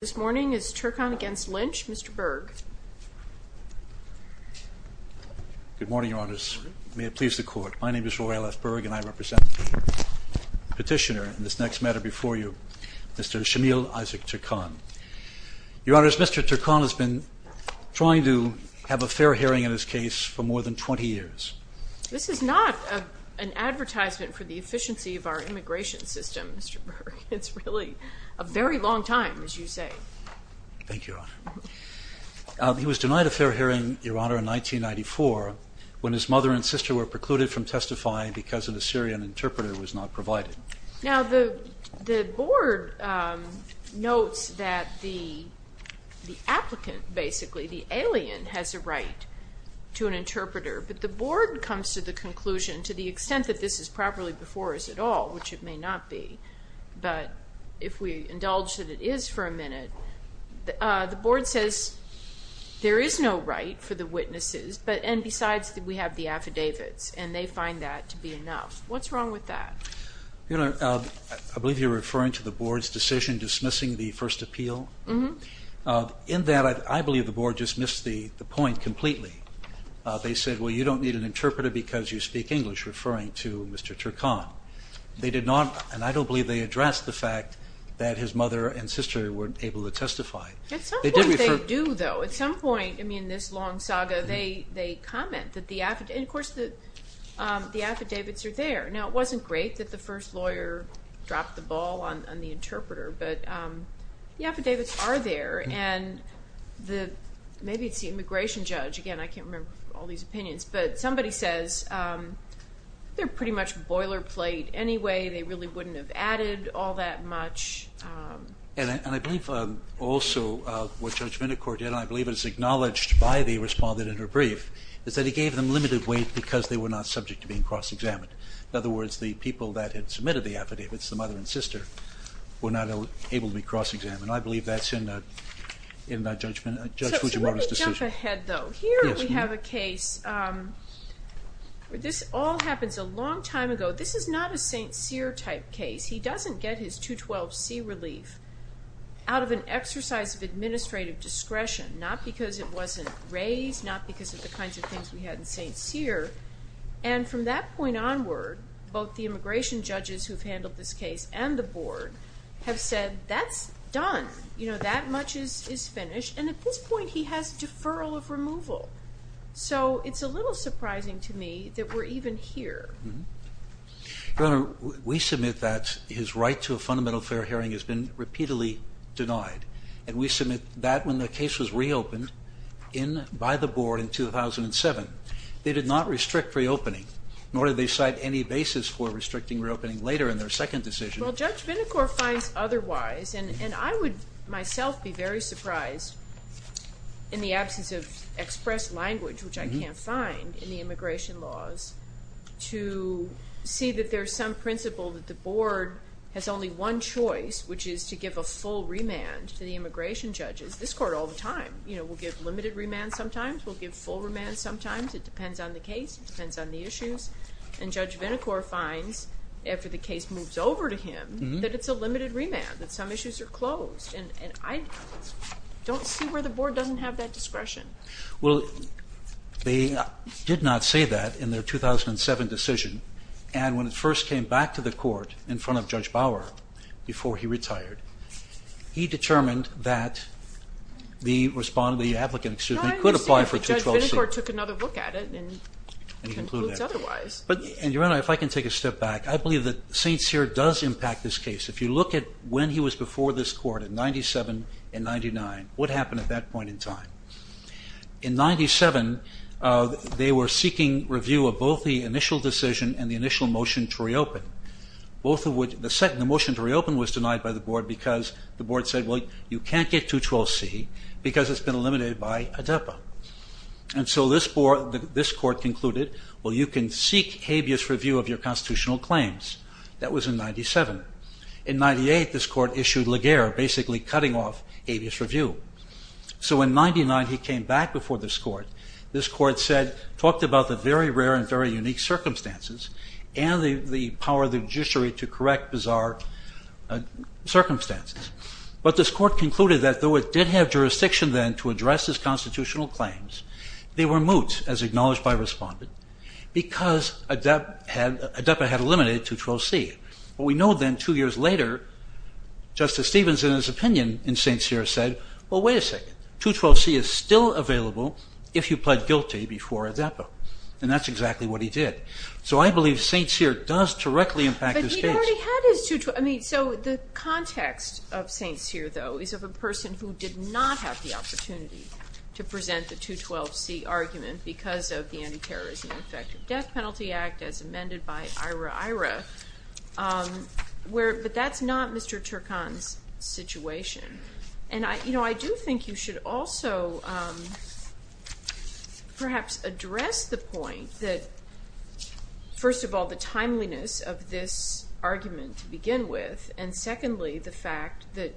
This morning is Turkhan v. Lynch. Mr. Berg. Good morning, Your Honors. May it please the Court. My name is Roy L. S. Berg, and I represent the petitioner in this next matter before you, Mr. Shmael Isaac Turkhan. Your Honors, Mr. Turkhan has been trying to have a fair hearing in his case for more than 20 years. This is not an advertisement for the efficiency of our immigration system, Mr. Berg. It's really a very long time, as you say. Thank you, Your Honor. He was denied a fair hearing, Your Honor, in 1994 when his mother and sister were precluded from testifying because an Assyrian interpreter was not provided. Now, the Board notes that the applicant, basically the alien, has a right to an interpreter, but the Board comes to the conclusion, to the extent that this is properly before us at all, which it may not be, but if we indulge that it is for a minute, the Board says there is no right for the witnesses, and besides, we have the affidavits, and they find that to be enough. What's wrong with that? Your Honor, I believe you're referring to the Board's decision dismissing the first appeal? Mm-hmm. In that, I believe the Board dismissed the point completely. They said, well, you don't need an interpreter because you speak English, referring to Mr. Turkhan. They did not, and I don't believe they addressed the fact that his mother and sister weren't able to testify. At some point they do, though. At some point, I mean, this long saga, they comment that the affidavits, and of course the affidavits are there. Now, it wasn't great that the first lawyer dropped the ball on the interpreter, but the affidavits are there, and maybe it's the immigration judge. Again, I can't remember all these opinions, but somebody says they're pretty much boilerplate anyway. They really wouldn't have added all that much. And I believe also what Judge Vindicore did, and I believe it's acknowledged by the respondent in her brief, is that he gave them limited weight because they were not subject to being cross-examined. In other words, the people that had submitted the affidavits, the mother and sister, were not able to be cross-examined. I believe that's in Judge Fujimoto's decision. So let me jump ahead, though. Here we have a case where this all happens a long time ago. This is not a St. Cyr type case. He doesn't get his 212C relief out of an exercise of administrative discretion, not because it wasn't raised, not because of the kinds of things we had in St. Cyr. And from that point onward, both the immigration judges who've handled this case and the board have said, that's done. You know, that much is finished. And at this point, he has deferral of removal. So it's a little surprising to me that we're even here. Your Honor, we submit that his right to a fundamental fair hearing has been repeatedly denied. And we submit that when the case was reopened by the board in 2007, they did not restrict reopening, nor did they cite any basis for restricting reopening later in their second decision. Well, Judge Vinokur finds otherwise, and I would myself be very surprised in the absence of express language, which I can't find in the immigration laws, to see that there's some principle that the board has only one choice, which is to give a full remand to the immigration judges. This court all the time, you know, will give limited remand sometimes, will give full remand sometimes. It depends on the case. It depends on the issues. And Judge Vinokur finds, after the case moves over to him, that it's a limited remand, that some issues are closed. And I don't see where the board doesn't have that discretion. Well, they did not say that in their 2007 decision. And when it first came back to the court in front of Judge Bauer before he retired, he determined that the applicant could apply for 212C. But Judge Vinokur took another look at it and concludes otherwise. And Your Honor, if I can take a step back, I believe that St. Cyr does impact this case. If you look at when he was before this court in 97 and 99, what happened at that point in time? In 97, they were seeking review of both the initial decision and the initial motion to reopen. The motion to reopen was denied by the board because the board said, well, you can't get 212C because it's been eliminated by ADEPA. And so this court concluded, well, you can seek habeas review of your constitutional claims. That was in 97. In 98, this court issued Legare, basically cutting off habeas review. So in 99, he came back before this court. This court talked about the very rare and very unique circumstances and the power of the judiciary to correct bizarre circumstances. But this court concluded that though it did have jurisdiction then to address his constitutional claims, they were moot, as acknowledged by Respondent, because ADEPA had eliminated 212C. But we know then two years later, Justice Stevens in his opinion in St. Cyr said, well, wait a second. 212C is still available if you pled guilty before ADEPA. And that's exactly what he did. So I believe St. Cyr does directly impact his case. But he already had his 212C. I mean, so the context of St. Cyr, though, is of a person who did not have the opportunity to present the 212C argument because of the Anti-Terrorism and Infective Death Penalty Act as amended by IRA-IRA. But that's not Mr. Turkan's situation. And I do think you should also perhaps address the point that, first of all, the timeliness of this argument to begin with, and secondly, the fact that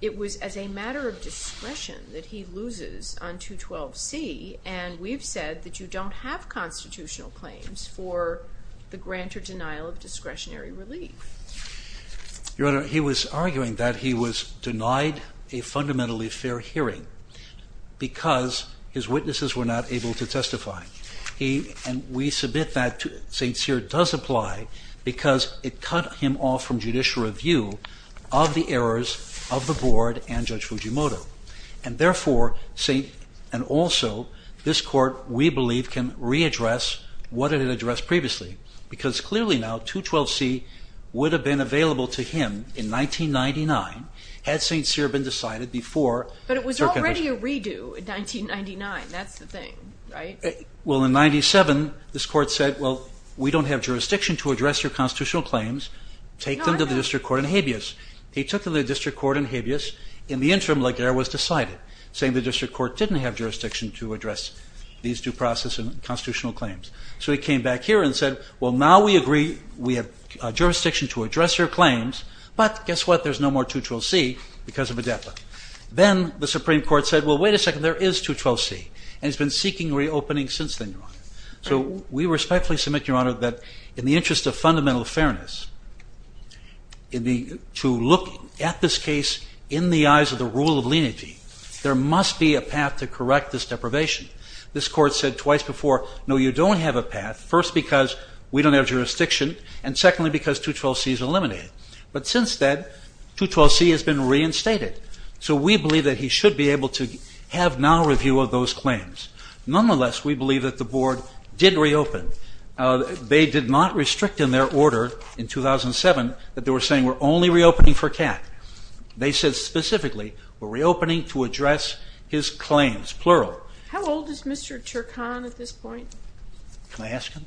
it was as a matter of discretion that he loses on 212C. And we've said that you don't have constitutional claims for the grant or denial of discretionary relief. Your Honor, he was arguing that he was denied a fundamentally fair hearing because his witnesses were not able to testify. And we submit that St. Cyr does apply because it cut him off from judicial review of the errors of the Board and Judge Fujimoto. And therefore, and also, this Court, we believe, can readdress what it had addressed previously. Because clearly now, 212C would have been available to him in 1999 had St. Cyr been decided before… But it was already a redo in 1999. That's the thing, right? Well, in 1997, this Court said, well, we don't have jurisdiction to address your constitutional claims. Take them to the district court in Habeas. He took them to the district court in Habeas. In the interim, Laguerre was decided, saying the district court didn't have jurisdiction to address these due process and constitutional claims. So he came back here and said, well, now we agree we have jurisdiction to address your claims. But guess what? There's no more 212C because of Odeppa. Then the Supreme Court said, well, wait a second, there is 212C. And it's been seeking reopening since then, Your Honor. So we respectfully submit, Your Honor, that in the interest of fundamental fairness, to look at this case in the eyes of the rule of lineage, there must be a path to correct this deprivation. This Court said twice before, no, you don't have a path, first because we don't have jurisdiction, and secondly because 212C is eliminated. But since then, 212C has been reinstated. So we believe that he should be able to have now review of those claims. Nonetheless, we believe that the Board did reopen. They did not restrict in their order in 2007 that they were saying we're only reopening for Kat. They said specifically we're reopening to address his claims, plural. How old is Mr. Turkan at this point? Can I ask him?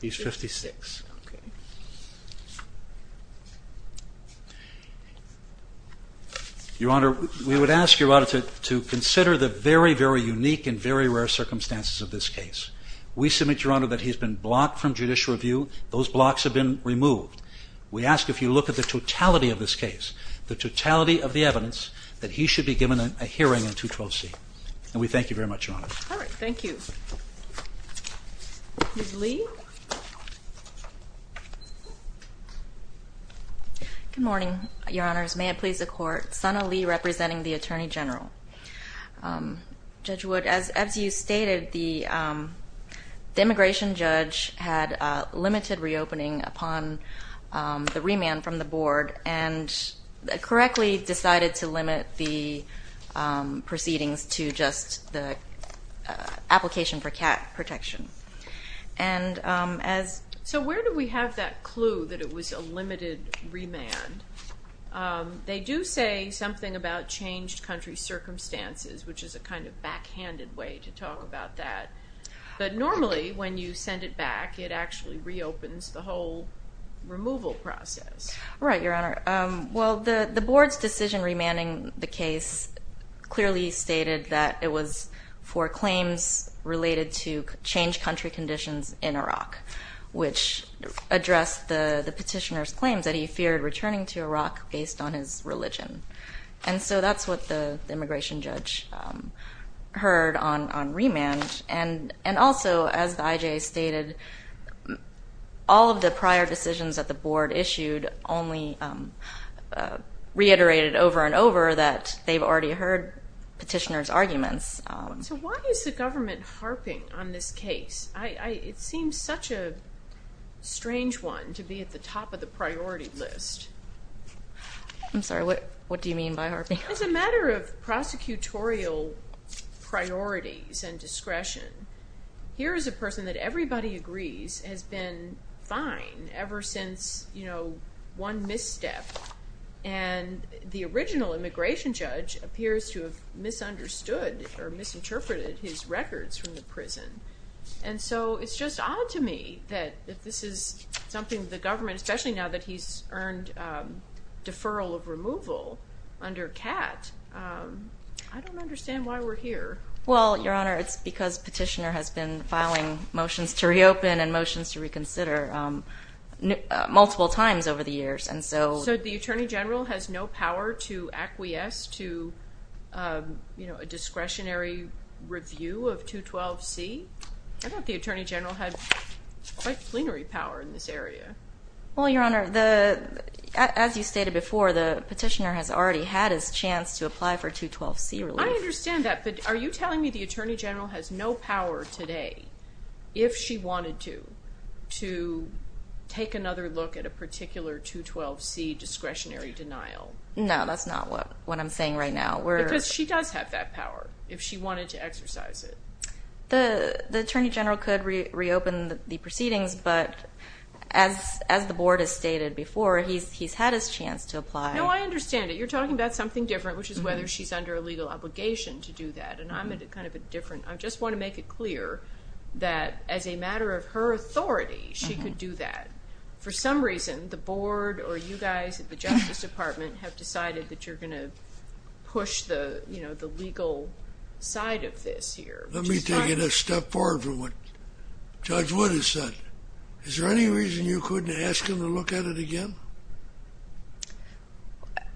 He's 56. Your Honor, we would ask Your Honor to consider the very, very unique and very rare circumstances of this case. We submit, Your Honor, that he's been blocked from judicial review. Those blocks have been removed. We ask if you look at the totality of this case, the totality of the evidence, that he should be given a hearing in 212C. And we thank you very much, Your Honor. All right. Thank you. Ms. Lee? Good morning, Your Honors. May it please the Court. Sana Lee representing the Attorney General. Judge Wood, as you stated, the immigration judge had limited reopening upon the remand from the Board and correctly decided to limit the proceedings to just the application for Kat protection. And as So where do we have that clue that it was a limited remand? They do say something about changed country circumstances, which is a kind of backhanded way to talk about that. But normally, when you send it back, it actually reopens the whole removal process. Right, Your Honor. Well, the Board's decision remanding the case clearly stated that it was for claims related to changed country conditions in Iraq, which addressed the petitioner's claims that he feared returning to Iraq based on his religion. And so that's what the immigration judge heard on remand. And also, as the IJA stated, all of the prior decisions that the Board issued only reiterated over and over that they've already heard petitioner's arguments. So why is the government harping on this case? It seems such a strange one to be at the top of the priority list. I'm sorry, what do you mean by harping? As a matter of prosecutorial priorities and discretion, here is a person that everybody agrees has been fine ever since, you know, one misstep. And the original immigration judge appears to have misunderstood or misinterpreted his records from the prison. And so it's just odd to me that this is something the government, especially now that he's earned deferral of removal under CAT. I don't understand why we're here. Well, Your Honor, it's because petitioner has been filing motions to reopen and motions to reconsider multiple times over the years. So the Attorney General has no power to acquiesce to a discretionary review of 212C? I thought the Attorney General had quite plenary power in this area. Well, Your Honor, as you stated before, the petitioner has already had his chance to apply for 212C relief. I understand that, but are you telling me the Attorney General has no power today, if she wanted to, to take another look at a particular 212C discretionary denial? No, that's not what I'm saying right now. Because she does have that power, if she wanted to exercise it. The Attorney General could reopen the proceedings, but as the Board has stated before, he's had his chance to apply. No, I understand it. You're talking about something different, which is whether she's under a legal obligation to do that, and I'm at a kind of a different... I just want to make it clear that as a matter of her authority, she could do that. For some reason, the Board or you guys at the Justice Department have decided that you're going to push the legal side of this here. Let me take it a step forward from what Judge Wood has said. Is there any reason you couldn't ask him to look at it again?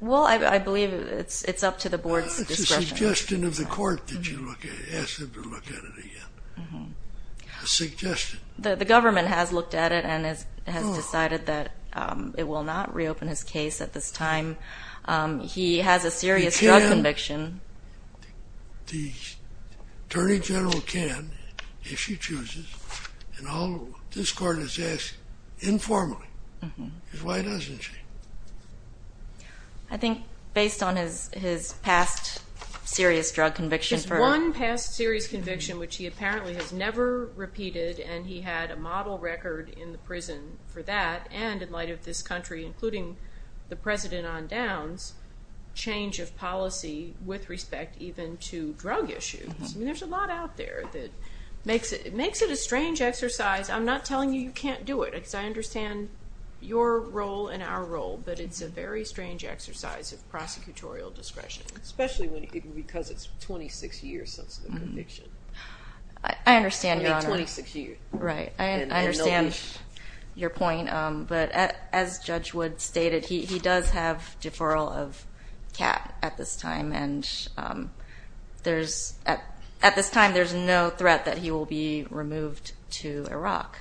Well, I believe it's up to the Board's discretion. It's a suggestion of the Court that you ask him to look at it again. A suggestion. The Government has looked at it and has decided that it will not reopen his case at this time. He has a serious drug conviction. The Attorney General can, if she chooses, and this Court has asked informally, because why doesn't she? I think based on his past serious drug conviction... His one past serious conviction, which he apparently has never repeated, and he had a model record in the prison for that, and in light of this country, including the President on downs, change of policy with respect even to drug issues. There's a lot out there that makes it a strange exercise. I'm not telling you you can't do it, because I understand your role and our role, but it's a very strange exercise of prosecutorial discretion. Especially because it's 26 years since the conviction. I understand, Your Honor. Maybe 26 years. Right. I understand your point. But as Judge Wood stated, he does have deferral of cap at this time, and at this time there's no threat that he will be removed to Iraq.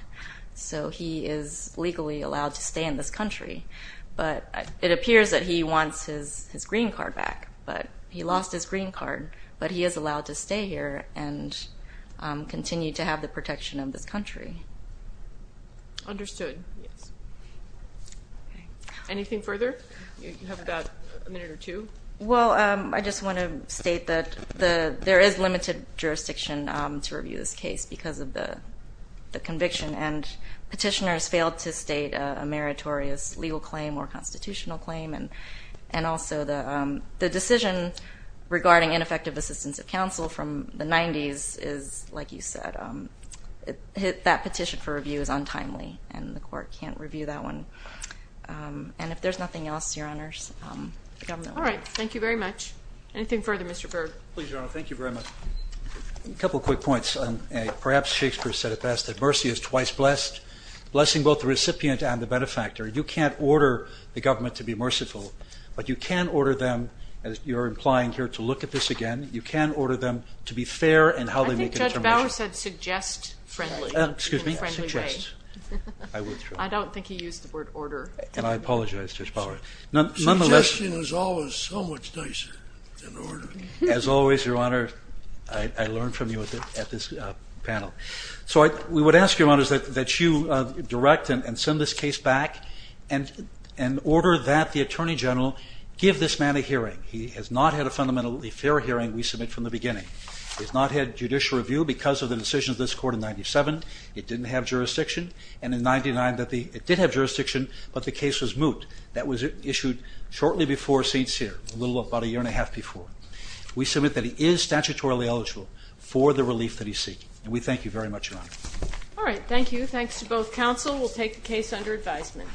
So he is legally allowed to stay in this country. But it appears that he wants his green card back. He lost his green card, but he is allowed to stay here and continue to have the protection of this country. Understood. Anything further? You have about a minute or two. Well, I just want to state that there is limited jurisdiction to review this case because of the conviction, and petitioners failed to state a meritorious legal claim or constitutional claim, and also the decision regarding ineffective assistance of counsel from the 90s is, like you said, that petition for review is untimely, and the court can't review that one. And if there's nothing else, Your Honors, the government will. All right. Thank you very much. Anything further, Mr. Berg? Please, Your Honor. Thank you very much. A couple of quick points. Perhaps Shakespeare said it best, that mercy is twice blessed, blessing both the recipient and the benefactor. You can't order the government to be merciful, but you can order them, as you're implying here, to look at this again. You can order them to be fair in how they make an intervention. I think Judge Bauer said suggest friendly. Excuse me? Suggest. I don't think he used the word order. And I apologize, Judge Bauer. Suggestion is always so much nicer than order. As always, Your Honor, I learn from you at this panel. So we would ask, Your Honors, that you direct and send this case back in order that the Attorney General give this man a hearing. He has not had a fundamentally fair hearing, we submit, from the beginning. He has not had judicial review because of the decisions of this court in 1997. It didn't have jurisdiction. And in 1999, it did have jurisdiction, but the case was moot. That was issued shortly before St. Cyr, about a year and a half before. We submit that he is statutorily eligible for the relief that he seeks. And we thank you very much, Your Honor. All right. Thank you. Thanks to both counsel. We'll take the case under advisement.